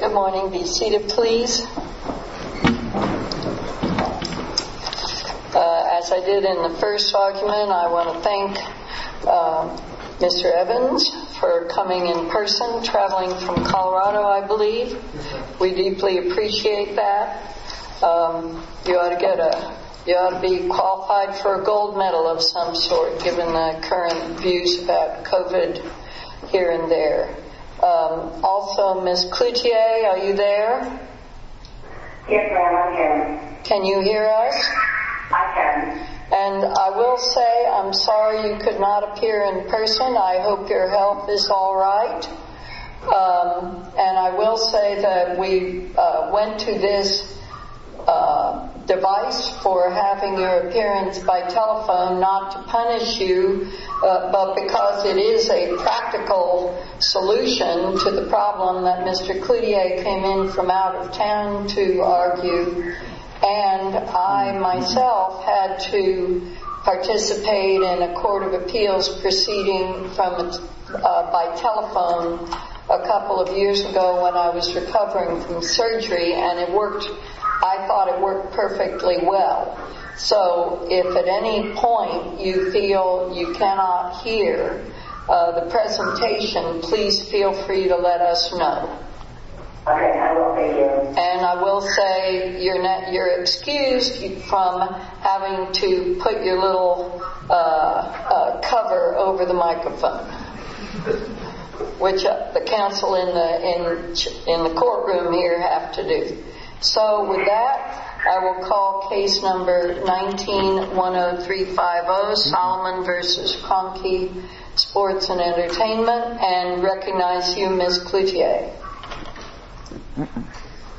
Good morning, be seated please. As I did in the first document, I want to thank Mr. Evans for coming in person, traveling from Colorado, I believe. We deeply appreciate that. You ought to be qualified for a gold medal of some sort, given the current views about COVID here and there. Also, Ms. Cloutier, are you there? Yes, ma'am, I'm here. Can you hear us? I can. And I will say I'm sorry you could not appear in person. I hope your health is alright. And I will say that we went to this device for having your appearance by telephone not to punish you, but because it is a practical solution to the problem that Mr. Cloutier came in from out of town to argue. And I myself had to participate in a court of appeals proceeding from by telephone a couple of years ago when I was recovering from surgery and it worked. I thought it worked perfectly well. So if at any point you feel you cannot hear the presentation, please feel free to let us know. And I will say you're excused from having to put your little cover over the microphone, which the counsel in the courtroom here have to do. So with that, I will call case number 19-10350, Solomon v. Cronkey, Sports and Entertainment, and recognize you, Ms. Cloutier.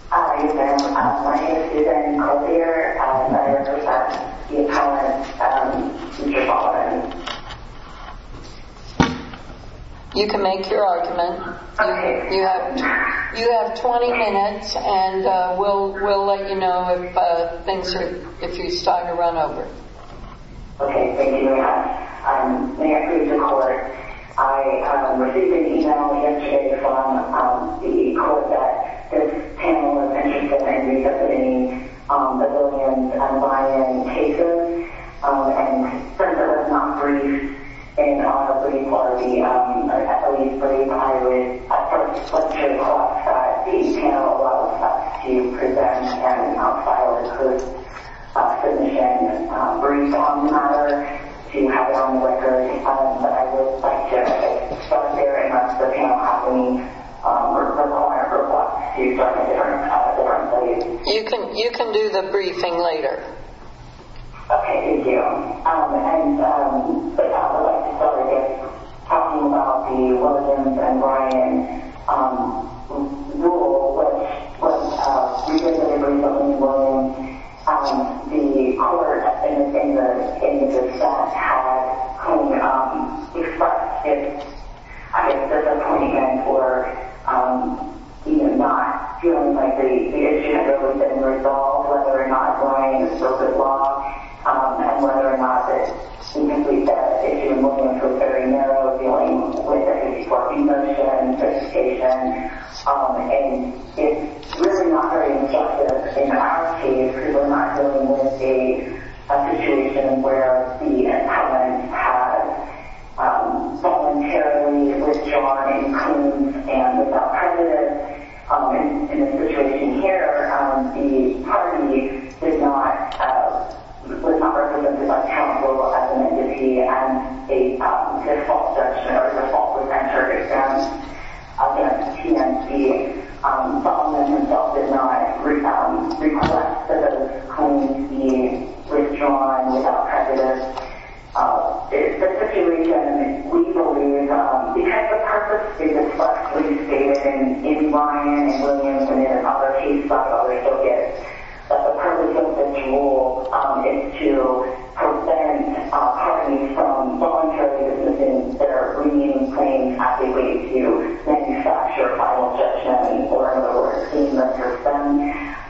Hi, ma'am. My name is Suzanne Cloutier, and I represent the appellant. You can make your argument. You have 20 minutes, and we'll let you know if you start to run over. Okay, thank you very much. May I speak to the court? I received an email here today from the court that this panel is interested in resubmitting the Williams and Ryan cases. And first of all, it's not brief, and probably for the, or at least for the appeal, it's a slip of the tongue that the panel allows us to present, and an outsider could present a brief on the matter, to have it on the record. But I would like to start there and ask the panel to ask me for a call and request to start a different case. You can do the briefing later. Okay, thank you. And I would like to start again, talking about the Williams and Ryan rule, which was a reasonably resounding ruling. The court, in the sense, had only expressed its disappointment for, you know, not feeling like the issue had really been resolved, whether or not Ryan was supposed to log, and whether or not the complete devastation of the Williams was very narrow, dealing with a swarming motion, a gestation, and it's really not very objective in our case, because we're not dealing with a situation where the appellant had voluntarily withdrawn and cleaned, and without precedent. In the situation here, the appellant did not, was not represented as a counsel, as an entity, as a default section, or a default presenter against TMT. The appellant himself did not request that those claims be withdrawn without precedent. The situation, we believe, because the purpose is expressly stated in Ryan, in Williams, and in another case file, we still get that the purpose of this rule is to prevent parties from voluntarily dismissing their remaining claims as they wait to manufacture a final judgment, or, in other words, clean the person.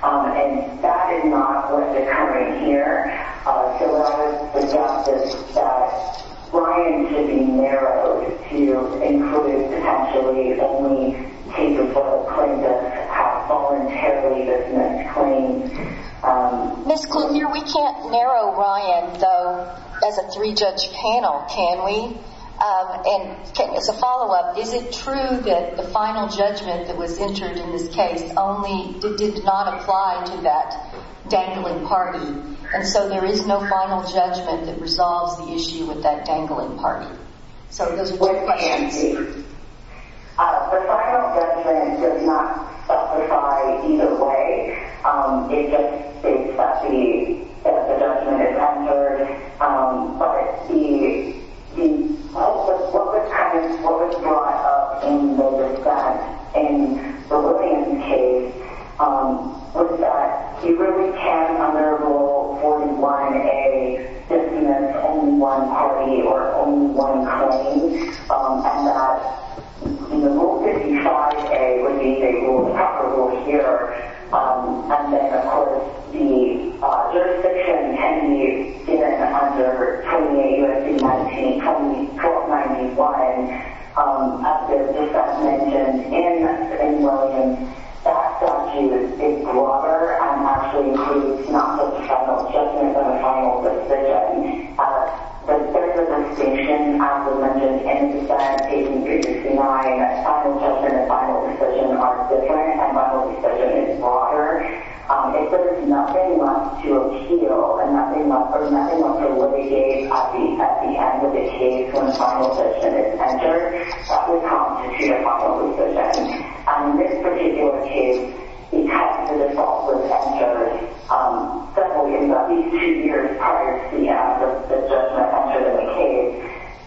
And that is not what's occurring here. So I would suggest that Ryan should be narrowed to include, potentially, only cases where the appellant has voluntarily dismissed claims. Ms. Klugner, we can't narrow Ryan, though, as a three-judge panel, can we? And as a follow-up, is it true that the final judgment that was entered in this case only did not apply to that dangling party? And so there is no final judgment that resolves the issue with that dangling party? So those are two questions. The final judgment does not specify either way. It just states that the judgment is entered. But the purpose, what was kind of, what was brought up in the defense, in the Williams case, was that he really can't under Rule 41A dismiss only one party or only one claim and that Rule 55A would be the rule applicable here. And then, of course, the jurisdiction can be given under 28 U.S.C. 1924-91. As the defense mentioned in Williams, that statute is broader and actually includes not the final judgment but a final decision. But there's a distinction, as was mentioned in the defense case, in reducing Ryan as final judgment and final decision are different and final decision is broader. If there's nothing left to appeal and nothing left to alleviate at the end of the case when the final judgment is entered, that would constitute a final decision. In this particular case, because the default was entered 72 years prior to the end of the judgment entered in the case,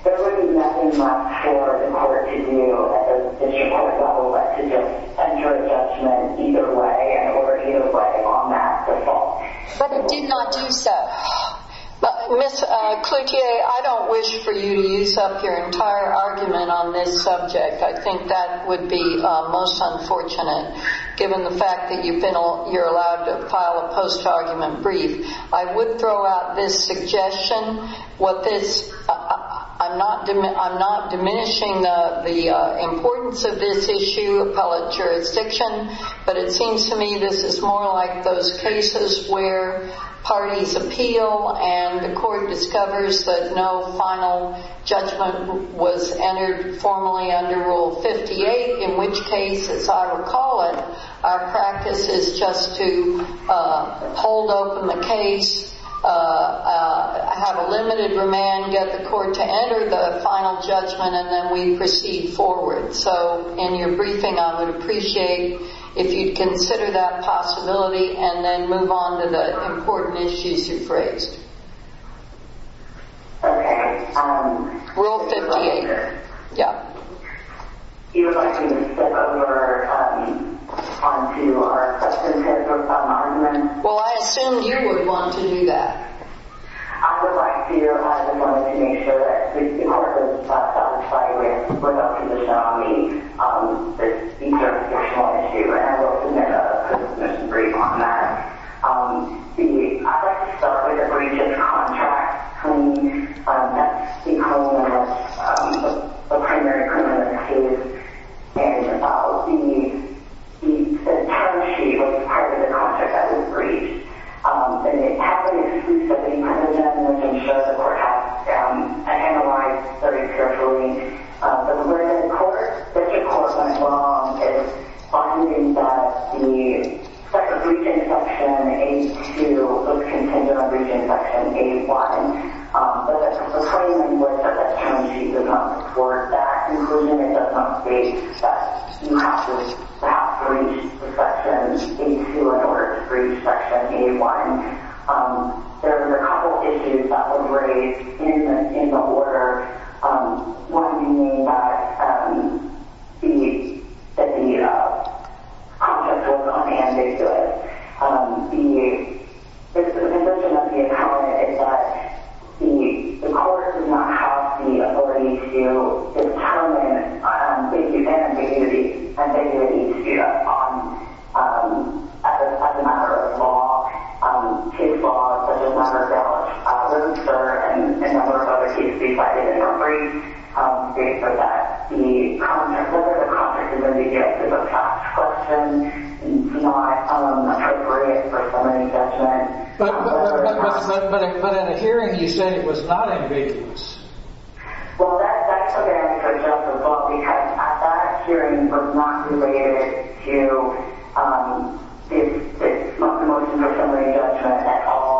there would be nothing left for the court to do at the district court level but to just enter a judgment either way and order either way on that default. But it did not do so. Ms. Cloutier, I don't wish for you to use up your entire argument on this subject. I think that would be most unfortunate given the fact that you're allowed to file a post-argument brief. I would throw out this suggestion. I'm not diminishing the importance of this issue, appellate jurisdiction, but it seems to me this is more like those cases where parties appeal and the court discovers that no final judgment was entered formally under Rule 58, in which case, as I recall it, our practice is just to hold open the case, have a limited remand, get the court to enter the final judgment, and then we proceed forward. So in your briefing, I would appreciate if you'd consider that as well. Ms. Cloutier, you would like me to step over onto our question and answer part of my argument? Well, I assume you would want to do that. I would like to make sure that the court is satisfied with the position on me. This is a jurisdictional issue and I will submit a post-admission brief on that. I would like to start with a breach of contract. That's the primary criminal case and the term sheet was part of the contract that was breached. And it happened exclusively under them, which I'm sure the court has analyzed very carefully. But where the court went wrong is finding that the breach instruction A-2 was contingent on breaching section A-1. But the claim that you looked at the term sheet was not towards that conclusion. It does not say that you have to breach the section A-2 in order to breach section A-1. There were a couple of issues that were raised in the order, one being that the contract was on a mandate to it. The condition of the accountant is that the court does not have the authority to determine the event and date of the dispute as a matter of law, case law, such as myself. I was unsure, and a number of other people decided it was a breach, based on that. The contract is an objective of tax collection, not appropriated for somebody's judgment. But in a hearing you said it was not ambiguous. Well, that took an extra jump of thought because that hearing was not related to the motion for somebody's judgment at all.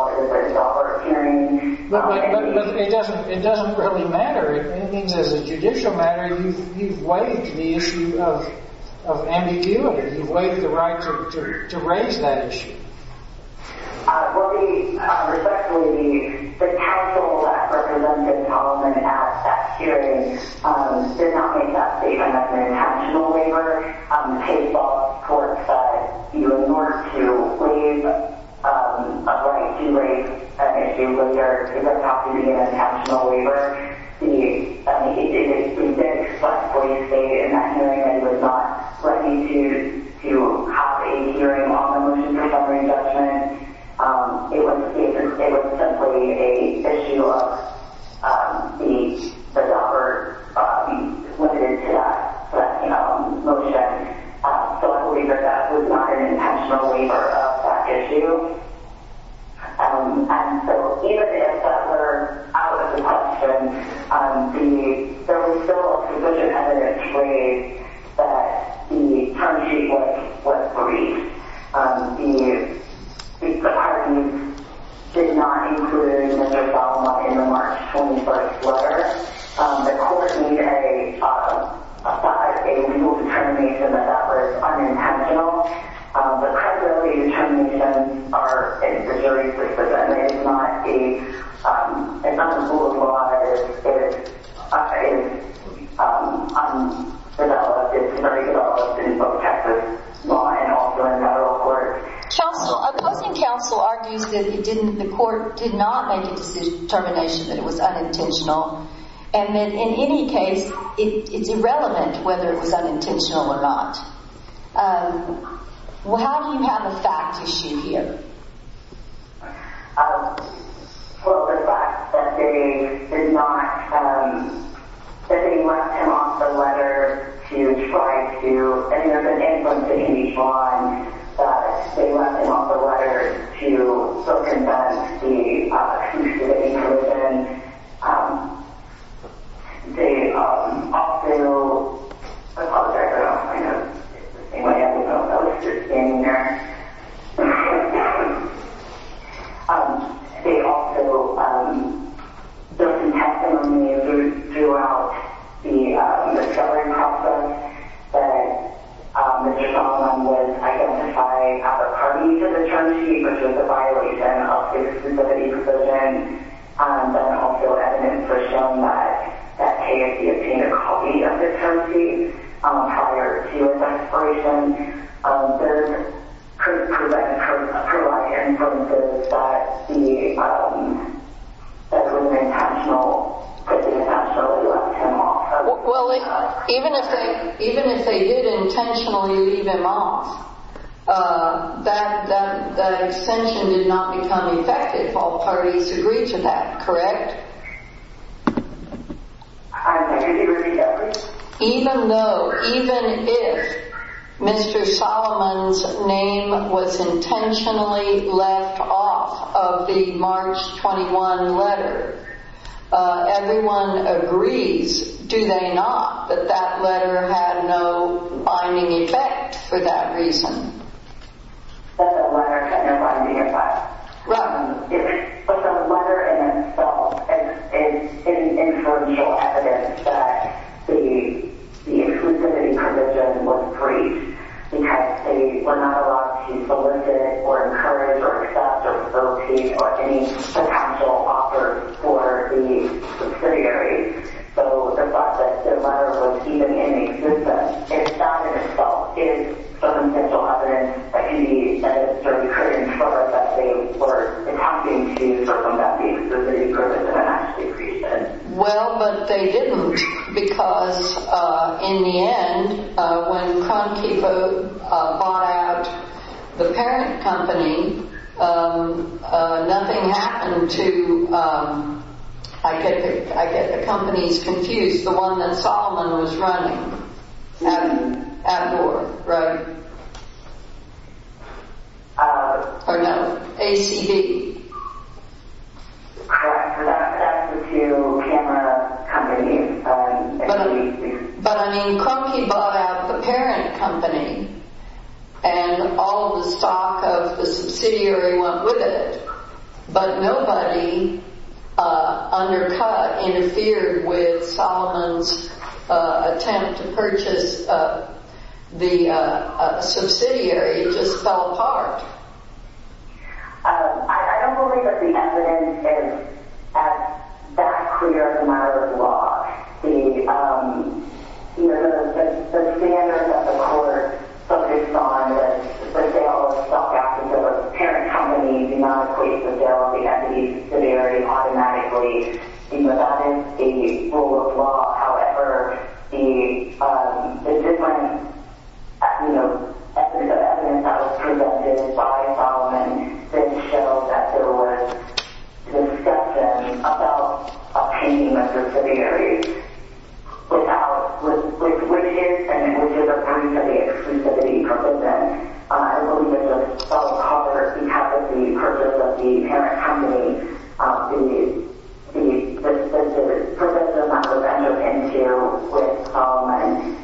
But it doesn't really matter. As a judicial matter, you've waived the issue of ambiguity. You've waived the right to raise that issue. Well, respectfully, the counsel that represented all of them at that hearing did not make that statement as an intentional waiver. Case law courts do in order to waive a right to raise an issue later, it does not have to be an intentional waiver. It did expressfully state in that hearing that it was not ready to have a hearing on the motion for somebody's judgment. It was simply an issue of the offer being limited to that motion. So I believe that that was not an intentional waiver of that issue. And so even if that were out of the question, there was still sufficient evidence that the term sheet was briefed. The parties did not include it in the March 21st letter. The court made a legal determination that that was unintentional. The preliminary determinations are in Missouri's representation. It's not the rule of law. It's very developed in both Texas law and also in federal courts. Opposing counsel argues that the court did not make a determination that it was unintentional. And then in any case, it's irrelevant whether it was unintentional or not. How do you have the facts issue here? Well, the fact that they did not, that they left him off the letter to try to, and there's an influence that can be drawn that they left him off the letter to so condemn the accusation. They also, I apologize, I don't know if anyone else is standing there. They also built some testimony throughout the discovery process that Mr. Tomlin was identifying other parties to the term sheet, which is a violation of his facility position. Then also evidence was shown that KFC obtained a copy of the term sheet prior to his expiration. There could provide confirmances that he, that it was intentional, that they intentionally left him off. That extension did not become effective. All parties agree to that, correct? Even though, even if Mr. Solomon's name was intentionally left off of the March 21 letter, everyone agrees, do they not, that that letter had no binding effect for that reason? That the letter had no binding effect. But the letter in itself is an inferential evidence that the exclusivity provision was breached because they were not allowed to solicit, or encourage, or accept, or locate, or any potential offer for the subsidiary. So the fact that the letter was even in existence, it's found in itself is some potential evidence that he, that it certainly couldn't, or that they were attempting to circumvent the exclusivity provision and actually breach it. Well, but they didn't, because in the end, when Crown Keeper bought out the parent company, nothing happened to, I get, I get the companies confused, the one that Solomon was running at, at war, right? Or no, ACB. That's the two camera companies. But I mean, Crown Keeper bought out the parent company, and all the stock of the subsidiary went with it. But nobody, undercut, interfered with Solomon's attempt to purchase the subsidiary, it just fell apart. I don't believe that the evidence is as clear as the matter of law. The, you know, the standard that the court focused on, that the sale of stock after the parent company did not replace the sale of the entity subsidiary automatically, you know, that is a rule of law. However, the, the different, you know, ethnic of evidence that was presented by Solomon did show that there was discussion about obtaining the subsidiary without, with, with, which is, and which is a breach of the exclusivity provision. I believe it fell apart because the purpose of the parent company, the, the, the purpose of not going to enter into with Solomon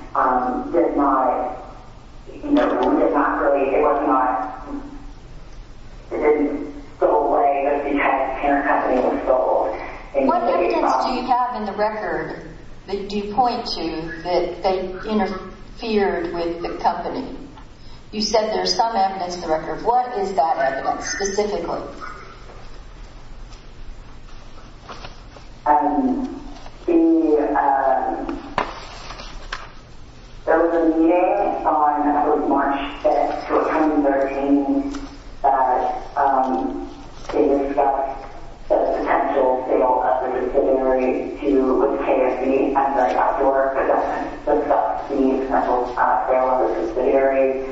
did not, you know, did not really, it was not, it didn't go away because the parent company was sold. What evidence do you have in the record that do you point to that they interfered with the company? You said there's some evidence in the record. What is that evidence specifically? Um, the, um, there was a meeting on March 5th, 2013, that, um, they discussed the potential sale of the subsidiary to KSB as an outdoor development, the, the potential sale of the subsidiary.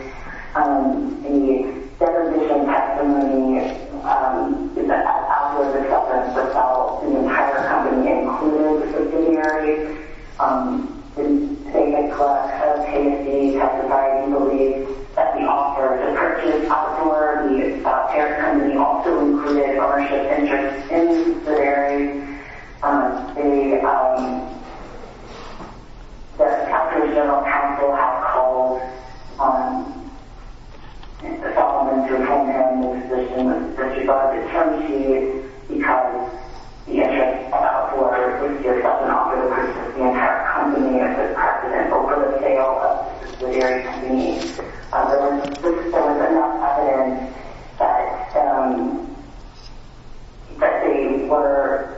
Um, the requisition testimony, um, that as an outdoor development for sale, the entire company included the subsidiary. Um, the KSB testified and believed that the offer to purchase outdoor the parent company also included ownership interest in the subsidiary. Um, they, um, the California General Counsel have called, um, the Solomon to remain in the position of the subsidiary's attorney because the interest about whoever it is doesn't offer the purchase of the entire company as a precedent for the sale of the subsidiary to me. Um, there was, there was enough evidence that, um, that they were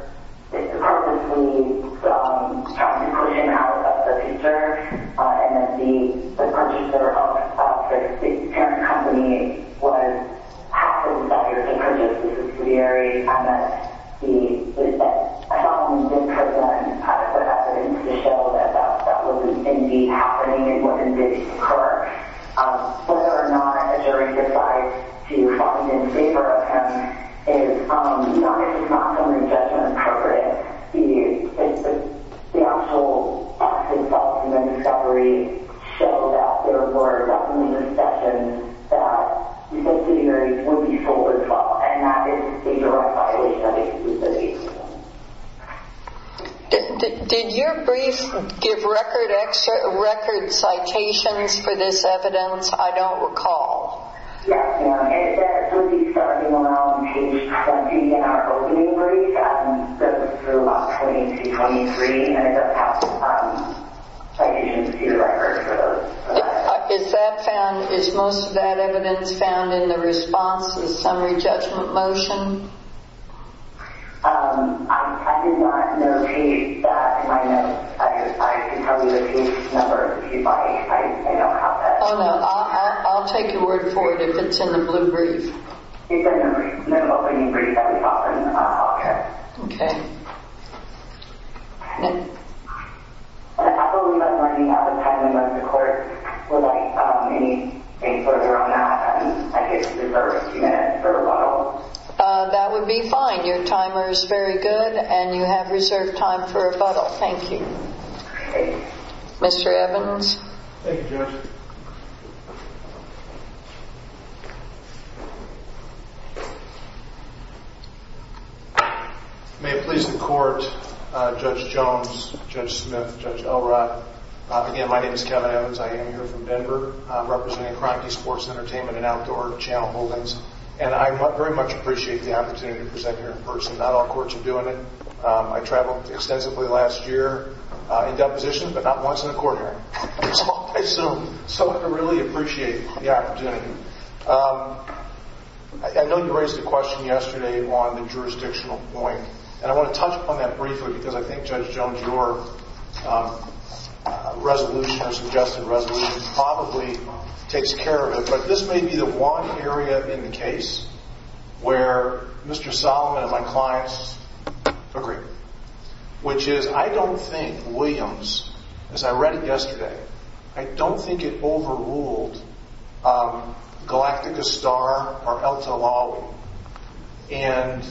supposedly, um, trying to push an out of the future, uh, and that the, the purchase of, uh, the parent company was happened that they were going to purchase the subsidiary and that the, that I don't believe this person has the evidence to show that that was indeed happening and wasn't, didn't occur. Um, whether or not a jury decides to find and favor of him is, um, not, this is not something that's judgment appropriate. The, the, the actual results of the discovery show that there were definitely discussions that the subsidiary would be sold as well. And that is a direct violation of his business. Did your brief give record extra record citations for this evidence? I don't recall. Yes, ma'am. It would be starting around page 20 in our opening brief, um, that was through about 20 to 23 and it does have, um, citations to the record for those. Is that found, is most of that evidence found in the response to the summary judgment motion? Um, I did not know page that in my notes. I, I can tell you the page number if you'd like. I, I don't have that. Oh no, I'll, I'll take your word for it if it's in the blue brief. It's in the opening brief that we saw from, uh, Hawker. Okay. Okay. That would be fine. Your timer is very good and you have reserved time for rebuttal. Thank you. Mr. Evans. Thank you, Judge. May it please the court, uh, Judge Jones, Judge Smith, Judge Elrod. Again, my name is Kevin Evans. I am here from Denver. I'm representing Cronky Sports Entertainment and Outdoor Channel Holdings and I very much appreciate the opportunity to present here in person. Not all courts are doing um, I traveled extensively last year, uh, in depositions, but not once in a quarter. So I really appreciate the opportunity. Um, I know you raised a question yesterday on the jurisdictional point and I want to touch upon that briefly because I think Judge Jones, your, um, resolution or suggested resolution probably takes care of it, but this may be the one area in the case where Mr. Solomon and my clients agree, which is I don't think Williams, as I read it yesterday, I don't think it overruled, um, Galactica Star or Elta Lawley. And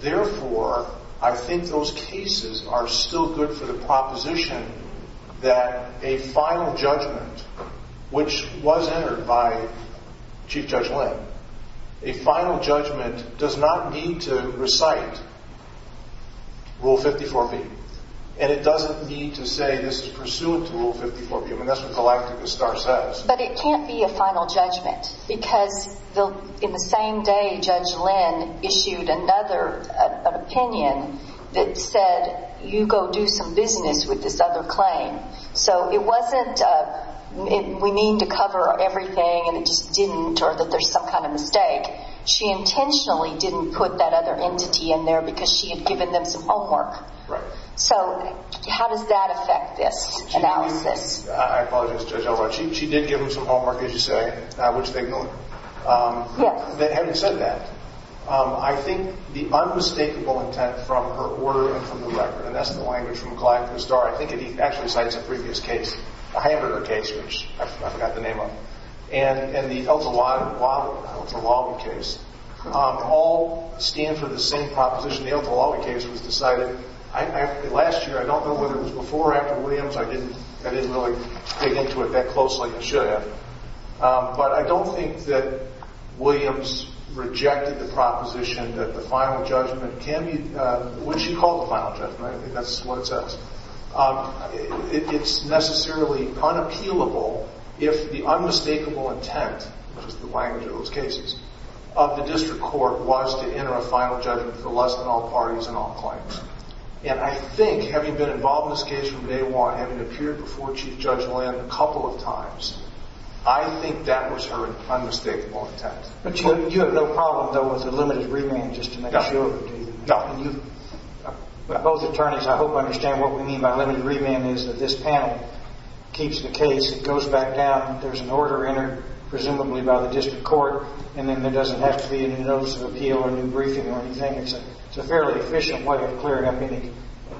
therefore I think those cases are still good for the proposition that a final judgment, which was entered by Chief Judge Lynn, a final judgment does not need to recite Rule 54B. And it doesn't need to say this is pursuant to Rule 54B. I mean, that's what Galactica Star says. But it can't be a final judgment because the, in the same day, Judge Lynn issued another, an opinion that said, you go do some business with this other claim. So it wasn't, uh, we mean to cover everything and it just didn't, or that there's some kind of mistake. She intentionally didn't put that other entity in there because she had given them some homework. Right. So how does that affect this analysis? I apologize, Judge Elroy. She, she did give them some homework, as you say, which they've known, um, that having said that, um, I think the unmistakable intent from her order and from the record, and that's the language from the previous case, the Heidegger case, which I forgot the name of, and, and the Elta Lawton, Lawton, Elta Lawton case, um, all stand for the same proposition. The Elta Lawton case was decided I, I, last year, I don't know whether it was before or after Williams. I didn't, I didn't really dig into it that closely. I should have. Um, but I don't think that Williams rejected the proposition that the final judgment can be, uh, what she called the final judgment. I think that's what it says. Um, it's necessarily unappealable if the unmistakable intent, which is the language of those cases, of the district court was to enter a final judgment for less than all parties and all claims. And I think having been involved in this case from day one, having appeared before Chief Judge Lamb a couple of times, I think that was her unmistakable intent. But you, you have no problem, though, with the limited remand just to make sure. No. Both attorneys, I hope, understand what we mean by limited remand is that this panel keeps the case. It goes back down. There's an order entered, presumably by the district court, and then there doesn't have to be any notice of appeal or new briefing or anything. It's a, it's a fairly efficient way of clearing up any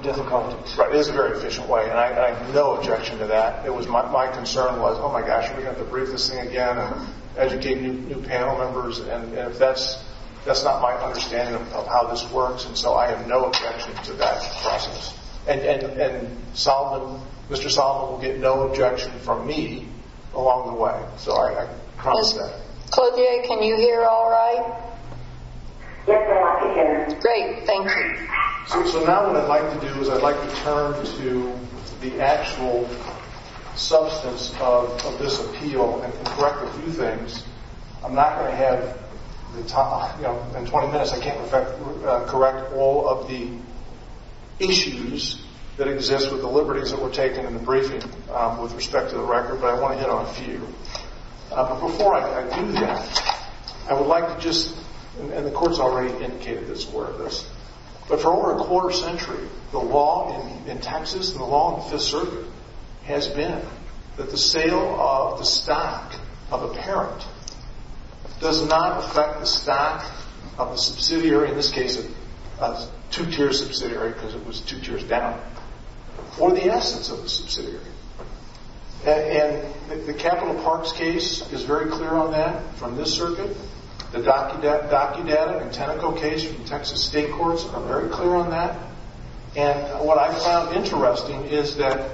difficulties. Right. It is a very efficient way. And I, I have no objection to that. It was my, my concern was, oh my gosh, we're going to have to brief this thing again and educate new, new panel members. And if that's, that's not my understanding of how this works. And so I have no objection to that process. And, and, and Solomon, Mr. Solomon will get no objection from me along the way. So I promise that. Clothier, can you hear all right? Yes, I can hear you. Great. Thank you. So now what I'd like to do is I'd like to turn to the actual substance of this appeal and correct a few things. I'm not going to have the time, you know, in 20 minutes, I can't correct all of the issues that exist with the liberties that were taken in the briefing with respect to the record, but I want to hit on a few. But before I do that, I would like to just, and the court's already indicated that it's aware of this, but for over a quarter century, the law in Texas and the law in the state of the parent does not affect the stock of the subsidiary. In this case, two-tier subsidiary, because it was two tiers down for the essence of the subsidiary. And the capital parks case is very clear on that from this circuit, the docu-docu data and tentacle case from Texas state courts are very clear on that. And what I found interesting is that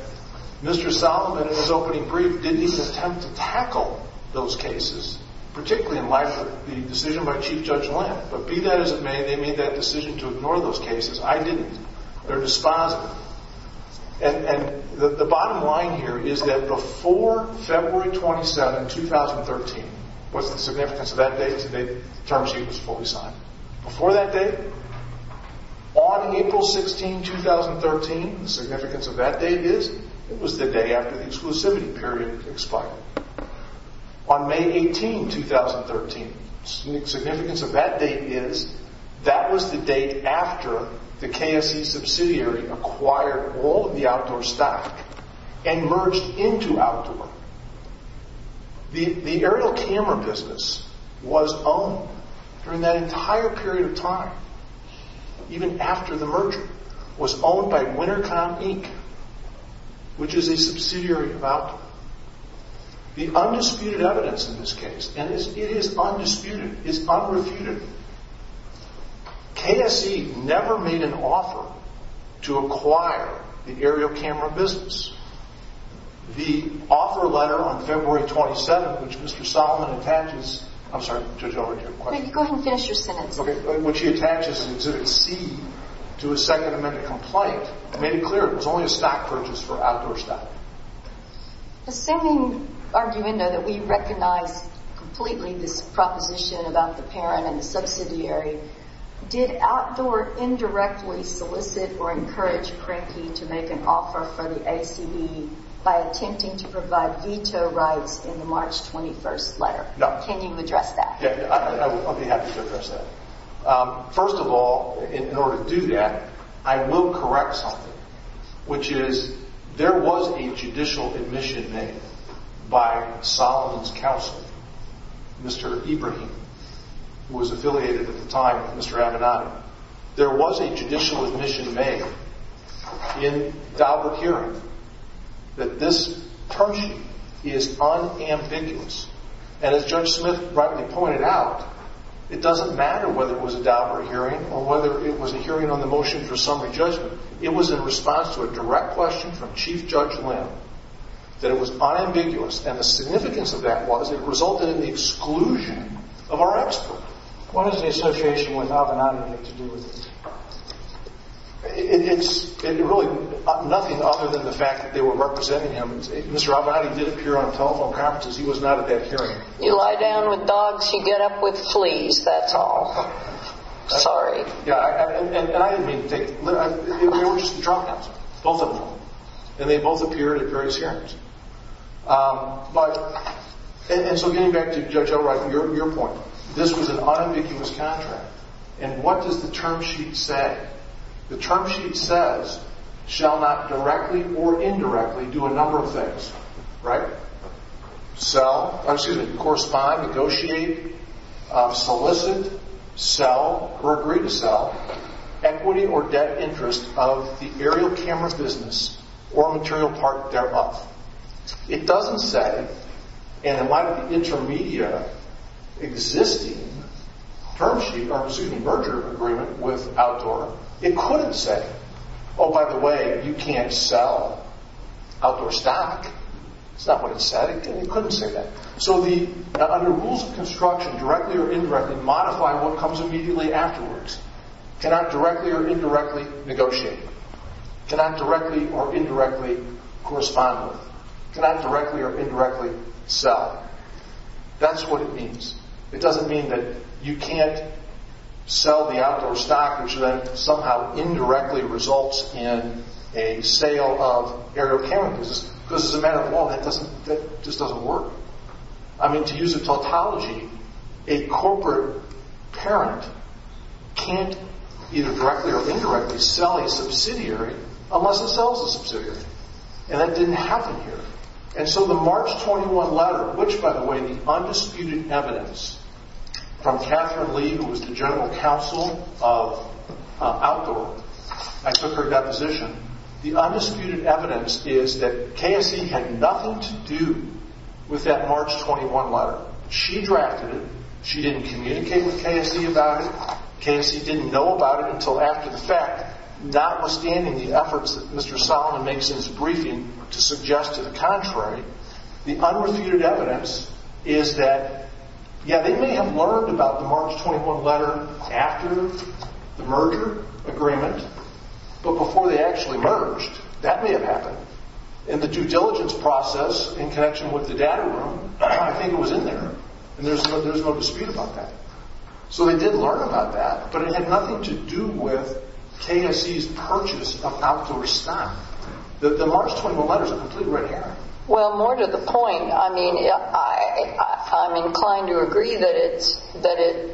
Mr. Solomon, in his opening brief, didn't even attempt to tackle those cases, particularly in my, the decision by Chief Judge Lamb. But be that as it may, they made that decision to ignore those cases. I didn't. They're dispositive. And the bottom line here is that before February 27, 2013, what's the significance of that date? The terms sheet was fully signed. Before that date, on April 16, 2013, the significance of that date is it was the day after the exclusivity period expired. On May 18, 2013, the significance of that date is that was the date after the KSC subsidiary acquired all of the outdoor stock and merged into outdoor. The aerial camera business was owned during that entire period of time, even after the merger, was owned by Wintercon Inc., which is a subsidiary of Outdoor. The undisputed evidence in this case, and it is undisputed, is unrefuted, KSC never made an offer to acquire the aerial camera business. The offer letter on February 27, which Mr. Solomon attaches, I'm sorry, Judge, I'll read your question. Go ahead and finish your sentence. Okay. What she attaches in Exhibit C to a Second Amendment complaint made it clear it was only a stock purchase for outdoor stock. Assuming, arguendo, that we recognize completely this proposition about the parent and the subsidiary, did Outdoor indirectly solicit or encourage Cranky to make an offer for the ACB by attempting to provide veto rights in the March 21st letter? Can you address that? Yeah, I'll be happy to address that. First of all, in order to do that, I will correct something, which is there was a judicial admission made by Solomon's counsel, Mr. Ibrahim, who was affiliated at the time with Mr. Abinanti. There was a judicial admission made in Daubert hearing that this purchase is unambiguous. And as Judge Smith rightly pointed out, it doesn't matter whether it was a Daubert hearing or whether it was a hearing on the motion for summary judgment. It was in response to a direct question from Chief Judge Lynn that it was unambiguous, and the significance of that was it resulted in the exclusion of our expert. What does the association with Abinanti have to do with this? It's really nothing other than the fact that they were representing him. Mr. Abinanti did appear on telephone conferences. He was not at that hearing. You lie down with dogs, you get up with fleas, that's all. Sorry. Yeah, and I didn't mean to take, they were just the trumpets, both of them, and they both appeared at various hearings. But, and so getting back to Judge Ibrahim, your point, this was an unambiguous contract, and what does the term sheet say? The term sheet says, shall not directly or indirectly do a number of things, right? Sell, excuse me, correspond, negotiate, solicit, sell, or agree to sell, equity or debt interest of the aerial camera business or material part thereof. It doesn't say, and it might be the intermediate existing term sheet, or excuse me, merger agreement with Outdoor. It couldn't say, oh, by the way, you can't sell Outdoor stock. That's not what it said, and it couldn't say that. So the, under rules of construction, directly or indirectly modify what comes immediately afterwards. Cannot directly or indirectly negotiate. Cannot directly or indirectly correspond with. Cannot directly or indirectly sell. That's what it means. It doesn't mean that you can't sell the Outdoor stock, which then somehow indirectly results in a sale of aerial cameras, because as a matter of law, that doesn't, that just doesn't work. I mean, to use a tautology, a corporate parent can't either directly or indirectly sell a subsidiary unless it sells a subsidiary, and that didn't happen here. And so the March 21 letter, which, by the way, the undisputed evidence from Catherine Lee, who was the general counsel of Outdoor, I took her deposition. The undisputed evidence is that KSC had nothing to do with that March 21 letter. She drafted it. She didn't communicate with KSC about it. KSC didn't know about it until after the fact. Notwithstanding the efforts that Mr. Solomon makes in his briefing to suggest to the contrary, the unrefuted evidence is that, yeah, they may have learned about the March 21 letter after the merger agreement, but before they actually merged, that may have happened. In the due diligence process in connection with the data room, I think it was in there, and there's no dispute about that. So they did learn about that, but it had nothing to do with KSC's purchase of Outdoor stock. The March 21 letter's a complete red herring. Well, more to the point, I mean, I'm inclined to agree that it's, that it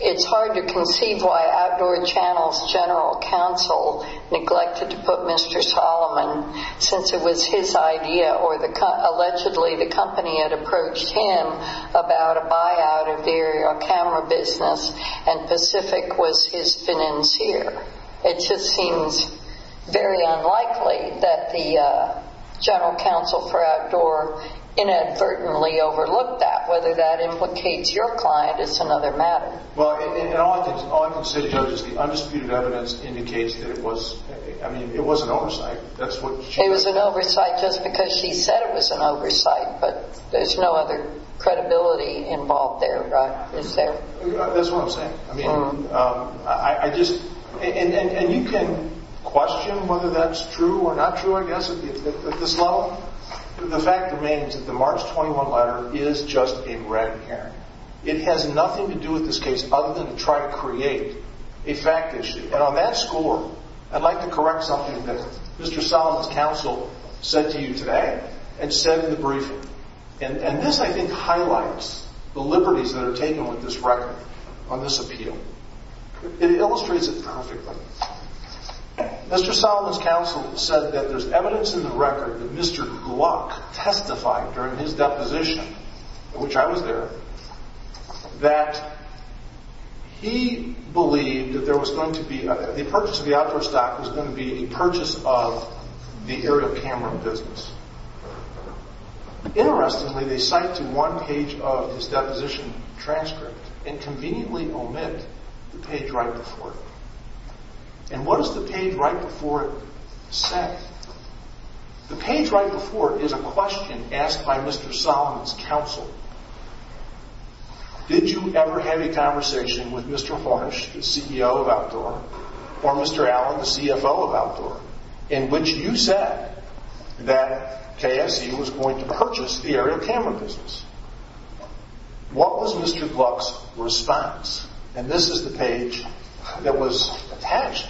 it's hard to conceive why Outdoor Channel's general counsel neglected to put Mr. Solomon, since it was his idea or the, allegedly the company had approached him about a buyout of the aerial camera business, and Pacific was his financier. It just seems very unlikely that the general counsel for Outdoor inadvertently overlooked that, whether that implicates your client, it's another matter. Well, and all I can say, Judge, is the undisputed evidence indicates that it was, I mean, it was an oversight. It was an oversight just because she said it was an oversight, but there's no other credibility involved there, right? Is there? That's what I'm saying. I mean, I just, and you can question whether that's true or not true, I guess, at this level, the fact remains that the March 21 letter is just a red herring. It has nothing to do with this case other than to try to create a fact issue, and on that score, I'd like to correct something that Mr. Solomon's counsel said to you today and said in the briefing, and this, I think, highlights the liberties that are taken with this record on this appeal. It illustrates it perfectly. Mr. Solomon's counsel said that there's evidence in the record that Mr. Gluck testified during his deposition, in which I was there, that he believed that there was going to be, the purchase of the outdoor stock was going to be a purchase of the area of Cameron Business. Interestingly, they cite to one page of his deposition transcript and conveniently omit the page right before it. And what does the page right before it say? The page right before it is a question asked by Mr. Solomon's counsel. Did you ever have a conversation with Mr. Harsh, the CEO of Outdoor, or Mr. Allen, the CFO of Outdoor, in which you said that KSC was going to purchase the area of Cameron Business? What was Mr. Gluck's response? And this is the page that was attached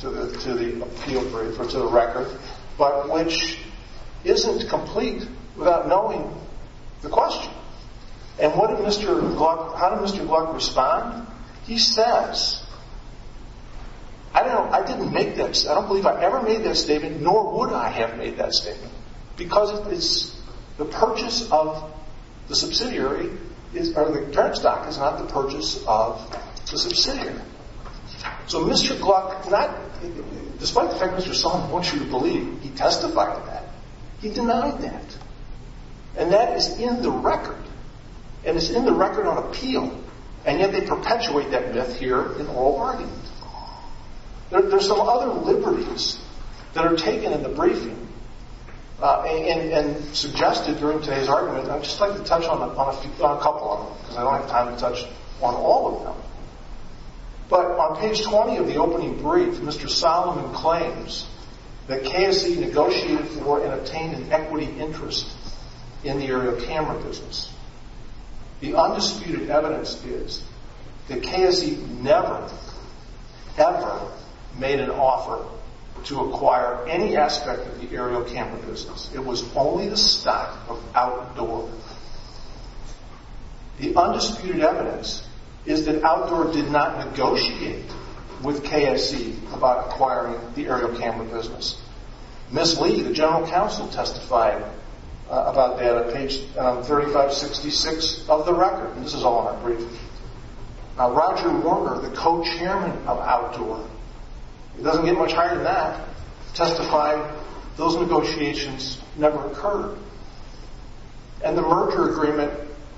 to the appeal, to the record, but which isn't complete without knowing the question. And what did Mr. Gluck, how did Mr. Gluck respond? He says, I don't know, I didn't make this, I don't believe I ever made that statement, nor would I have made that statement, because it's, the purchase of the subsidiary is, or the turnstock is not the purchase of the subsidiary. So Mr. Gluck, not, despite the fact Mr. Solomon wants you to believe, he testified to that, he denied that. And that is in the record, and it's in the record on appeal, and yet they perpetuate that myth here in oral argument. There's some other liberties that are taken in the briefing, and suggested during today's argument, and I'd just like to touch on a couple of them, because I don't have time to touch on all of them now. But on page 20 of the opening brief, Mr. Solomon claims that KSC negotiated for and obtained an equity interest in the area of Cameron Business. The undisputed evidence is that KSC never, ever made an offer to acquire any aspect of the area of Cameron Business. It was only the stock of Outdoor. The undisputed evidence is that Outdoor did not negotiate with KSC about acquiring the area of Cameron Business. Ms. Lee, the general counsel, testified about that on page 3566 of the record, and this is all in our briefing. Now Roger Warner, the co-chairman of Outdoor, it doesn't get much higher than that, testified those negotiations never occurred, and the merger agreement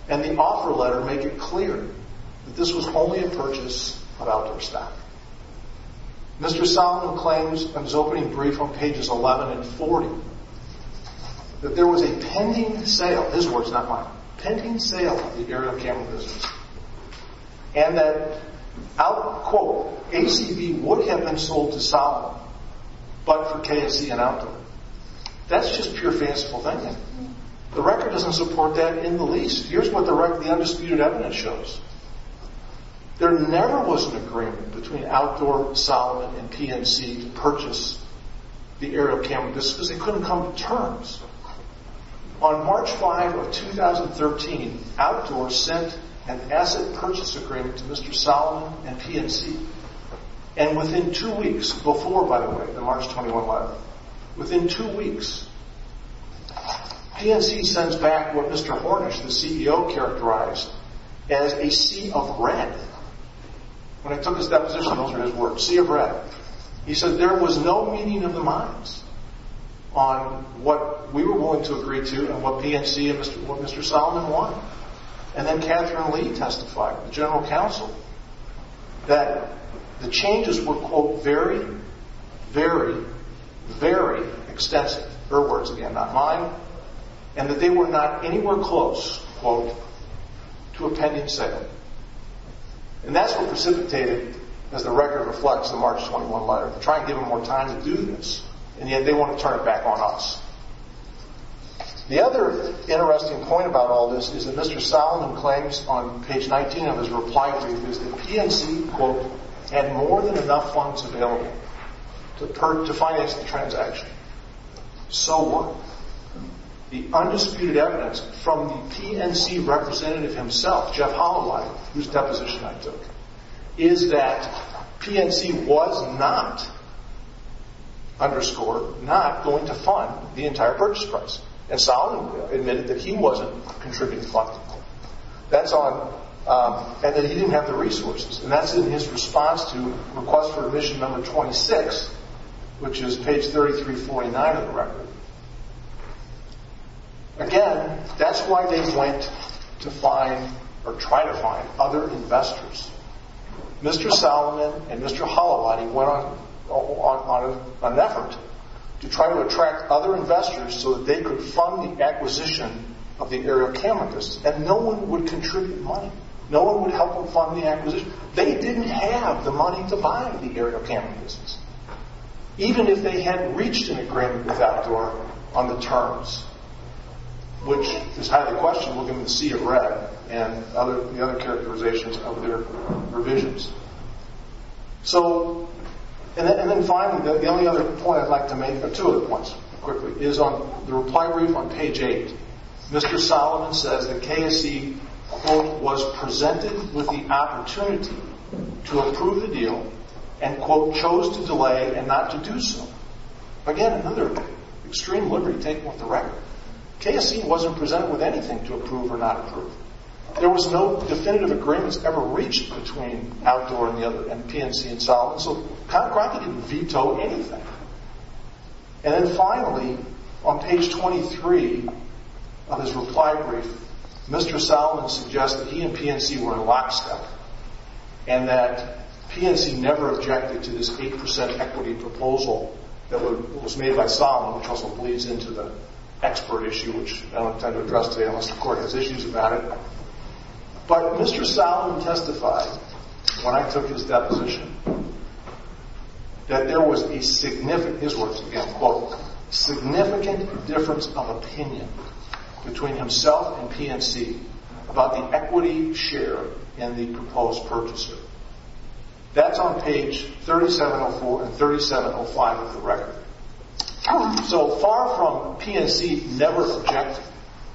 and the offer letter make it clear that this was only a purchase of Outdoor stock. Mr. Solomon claims in his opening brief on pages 11 and 40, that there was a pending sale, his words not mine, pending sale of the area of Cameron Business, and that, quote, ACB would have been sold to Solomon, but for KSC and Outdoor. That's just pure fanciful thinking. The record doesn't support that in the least. Here's what the undisputed evidence shows. There never was an agreement between Outdoor, Solomon, and PNC to purchase the area of Cameron Business because they couldn't come to terms. On March 5 of 2013, Outdoor sent an asset purchase agreement to Mr. Solomon and PNC, and within two weeks, before, by the way, the March 21 letter, within two weeks, PNC sends back what Mr. Hornish, the CEO, characterized as a sea of red. When I took his deposition, those were his words, sea of red. He said there was no meeting of the minds on what we were willing to agree to, what PNC and what Mr. Solomon want, and then Catherine Lee testified, the general counsel, that the changes were, quote, very, very, very extensive, her words again, not mine, and that they were not anywhere close, quote, to a pending sale. And that's what precipitated, as the record reflects the March 21 letter, to try and give them more time to do this, and yet they want to turn it back on us. The other interesting point about all this is that Mr. Solomon claims on page 19 of his reply to me is that PNC, quote, had more than enough funds available to finance the transaction. So what? The undisputed evidence from the PNC representative himself, Jeff Holloway, whose deposition I took, is that PNC was not, underscore, not going to fund the entire purchase price, and Solomon admitted that he wasn't contributing the funding. That's on, and that he didn't have the resources, and that's in his response to request for admission number 26, which is page 3349 of the record. Again, that's why they went to find, or try to find, other investors. Mr. Solomon and Mr. Holloway went on an effort to try to attract other investors so that they could fund the acquisition of the aerial camera business, and no one would contribute money. No one would help them fund the acquisition. They didn't have the money to buy the aerial camera business. Even if they had reached an agreement with Outdoor on the terms, which is highly questionable given the sea of red and the other characterizations of their revisions. So, and then finally, the only other point I'd like to make, or two other points, quickly, is on the reply brief on page 8. Mr. Solomon says that KSC, quote, was presented with the opportunity to approve the and not to do so. Again, another extreme liberty taking off the record. KSC wasn't presented with anything to approve or not approve. There was no definitive agreements ever reached between Outdoor and the other, and PNC and Solomon. So, Conrad didn't veto anything. And then finally, on page 23 of his reply brief, Mr. Solomon suggests that he and PNC were in lockstep, and that PNC never objected to this 8% equity proposal that was made by Solomon, which also bleeds into the expert issue, which I don't intend to address today unless the court has issues about it. But Mr. Solomon testified, when I took his deposition, that there was a significant, his words again, quote, significant difference of opinion between himself and PNC about the equity share in the proposed purchaser. That's on page 3704 and 3705 of the record. So, far from PNC never objecting,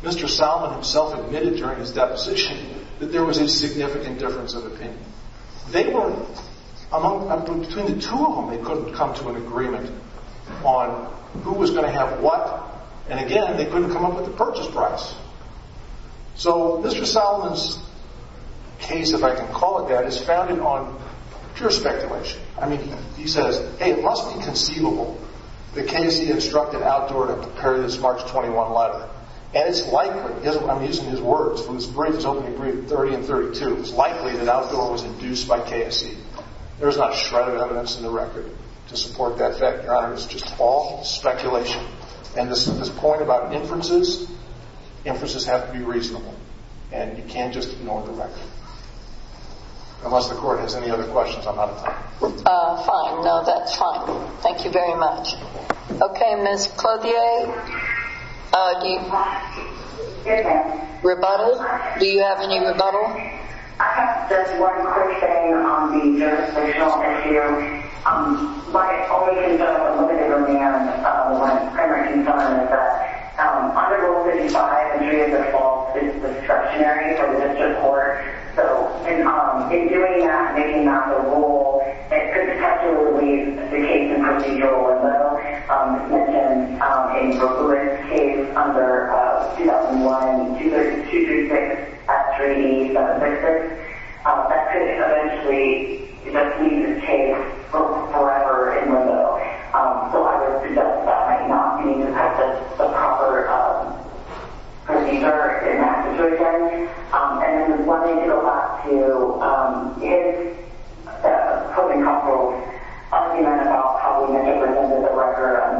Mr. Solomon himself admitted during his deposition that there was a significant difference of opinion. They were, between the two of them, they couldn't come to an agreement on who was going to have what, and again, they couldn't come up with the purchase price. So, Mr. Solomon's case, if I can call it that, is founded on pure speculation. I mean, he says, hey, it must be conceivable that KSC instructed Outdoor to prepare this March 21 letter. And it's likely, I'm using his words, from his briefs, opening brief 30 and 32, it's likely that Outdoor was induced by KSC. There's not a shred of evidence in the record to support that your honor. It's just all speculation. And this point about inferences, inferences have to be reasonable, and you can't just ignore the record. Unless the court has any other questions, I'm out of time. Fine, no, that's fine. Thank you very much. Okay, Ms. Clothier, do you have any rebuttal? I have just one quick thing on the jurisdictional issue. My only concern, but a little bit of a rant, my primary concern is that under Rule 55, entry is a false, it's obstructionary for the district court. So, in doing that, making that a rule, it could potentially leave the case in procedural limbo, as mentioned in Brooklyn's case under 2001-23236-38766. That could eventually leave the case forever in limbo. So I would suggest that might not be the proper procedure in that situation. And one thing to go back to, if the coping counsel, you might have thought, probably may have presented the record on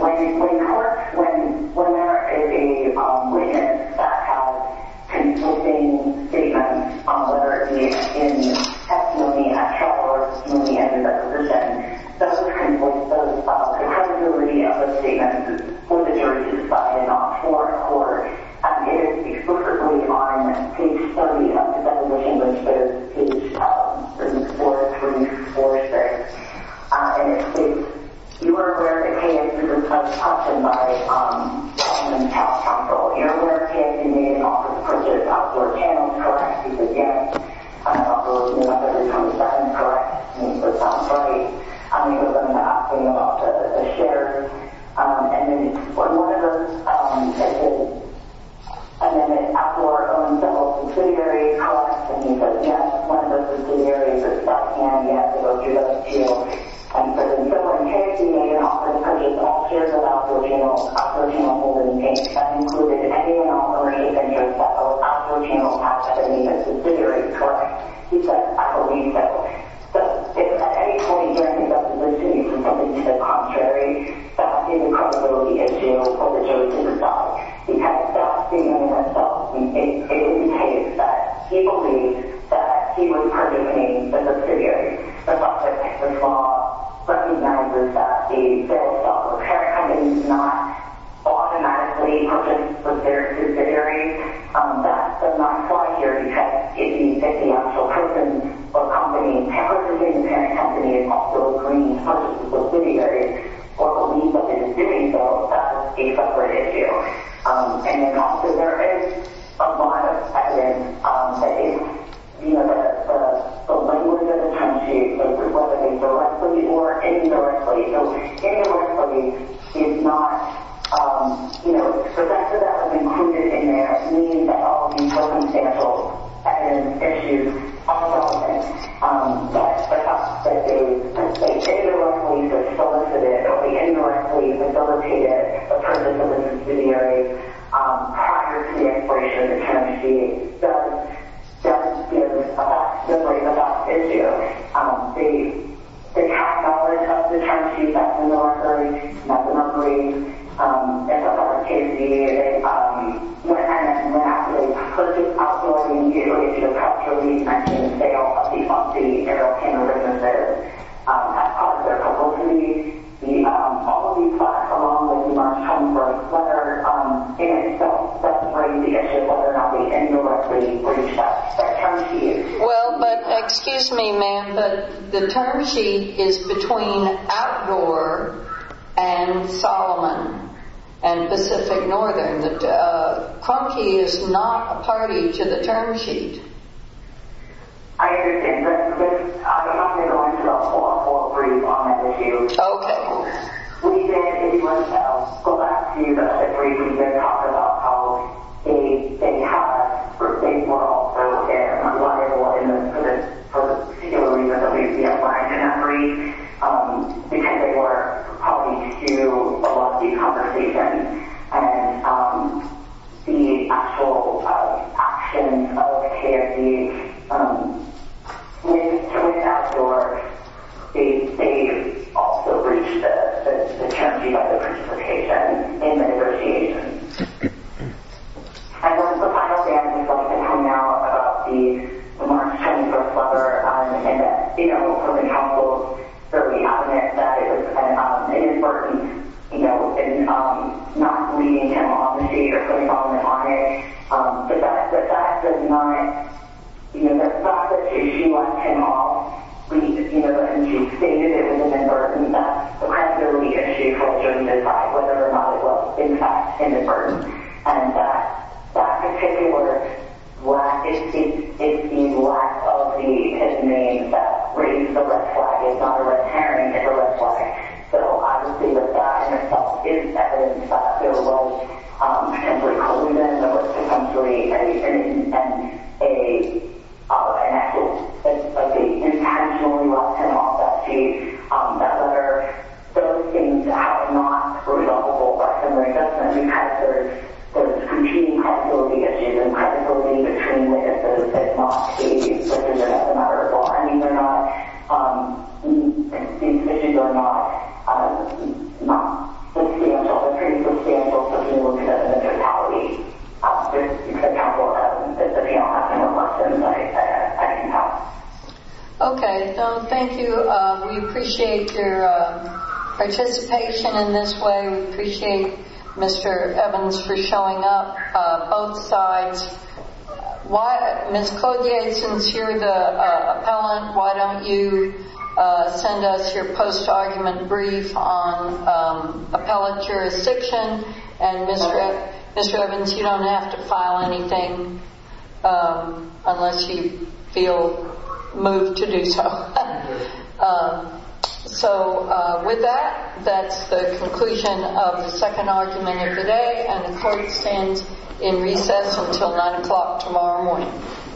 when the court, when there is a witness that has conflicting statements on whether it's in testimony at trial or testimony at reversal, that's what conflicts those. The credibility of the statement for the jury to decide is not for the court. It is exclusively on page 30 of the deposition, which is page 4-3-4-6. And if you are aware of a case, you can touch us and my government health counsel. You're aware of a case you made in office, which is Outdoor Channels, correct? You could guess. Outdoor Channels is number 27, correct? I mean, that sounds right. How many of them are asking about a shitter? And then one of them said, and then after our own civil subsidiary, correct? And he said, yes, one of those subsidiaries is stuck, and you have to go through those too. But in your case, you made an offer to purchase all shares of Outdoor Channels, Outdoor Channels Holdings, Inc. That included any and all of our eight ventures that were Outdoor Channels assets, I mean, that's subsidiary, correct? He said, I believe so. So, at any point here, I think that was listening to something to the contrary. That is a credibility issue for the judge himself. He has to ask himself, in his case, that he believes that he was permitting the subsidiary. The law recognizes that the federal self-repair company did not automatically purchase the subsidiary. That does not apply here, because if the actual person or company, however the parent company, is also agreeing to purchase the subsidiary, or believe that they're doing so, that's a separate issue. And then also, there is a lot of evidence that is, you know, that the language that the country uses, whether it's directly or indirectly, so indirectly is not, you know, the fact that that was included in there means that all of these circumstantial evidence issues are relevant. But the fact that they indirectly solicited or they indirectly facilitated the purchase of the subsidiary, prior to the expiration of the term sheet, does, does, you know, vibrate with that issue. The catalog of the term sheet, that's a case, is, um, when, when actually the purchase of the subsidiary, if your country mentions the sale of the, of the aeroplane or businesses, um, as part of their proposal to the, the, um, all of these platforms, when you are looking for a letter, um, in itself, that's a very big issue, whether or not we indirectly reach that, that term sheet. Well, but, excuse me, ma'am, but the term sheet is between outdoor and Solomon and Pacific Northern. The, uh, Crump Key is not a party to the term sheet. I understand that, but I'm not going to go into the whole, whole brief on that issue. Okay. We did, if you want to tell, go back to the situation that you talked about, how they, they have, they were also, they're not liable in the, for the, for the particular reason that we've been applying to memory, um, because they were a party to a lot of the conversation and, um, the actual, uh, action of KFD, um, to, to win outdoors, they, they also breached the, the, the term sheet of the participation in the negotiation. And then the final thing I'd just like to point out about the March 21st letter, um, and that, you know, from the council's early comment that it was an, um, inadvertent, you know, in, um, not leaving him on the stage or putting all of this on it, um, but that, but that does not, you know, that's not the issue on him at all. We, you know, but since you stated it was an inadvertent, that's primarily an issue for us to decide whether or not it was, in fact, inadvertent. And that, that particular black, it's the, it's the lack of the, his name that reads the red flag. It's not a red herring, it's a red flag. So obviously the fact itself is evidence that there was, um, a precludence of the country and, and, and a, uh, an act of, of the intentionally left him off that stage. Um, that letter, those things have not resolved the whole question right now because there's, there's continuing credibility issues and credibility issues that's not stated, whether that's a matter of bargaining or not. Um, these issues are not, um, not, let's see, I'm sorry, let's see if we can look at the totality. Um, there's a couple of, um, if you don't have any more questions, I, I, I can help. Okay. No, thank you. Um, we appreciate your, uh, participation in this way. We appreciate Mr. Evans for showing up, uh, both sides. Why, Ms. Clothier, since you're the, uh, appellant, why don't you, uh, send us your post-argument brief on, um, appellate jurisdiction and Mr. Evans, you don't have to file anything, um, unless you feel moved to do so. Um, so, uh, with that, that's the conclusion of the second argument of the day and the court stands in recess until nine o'clock tomorrow morning.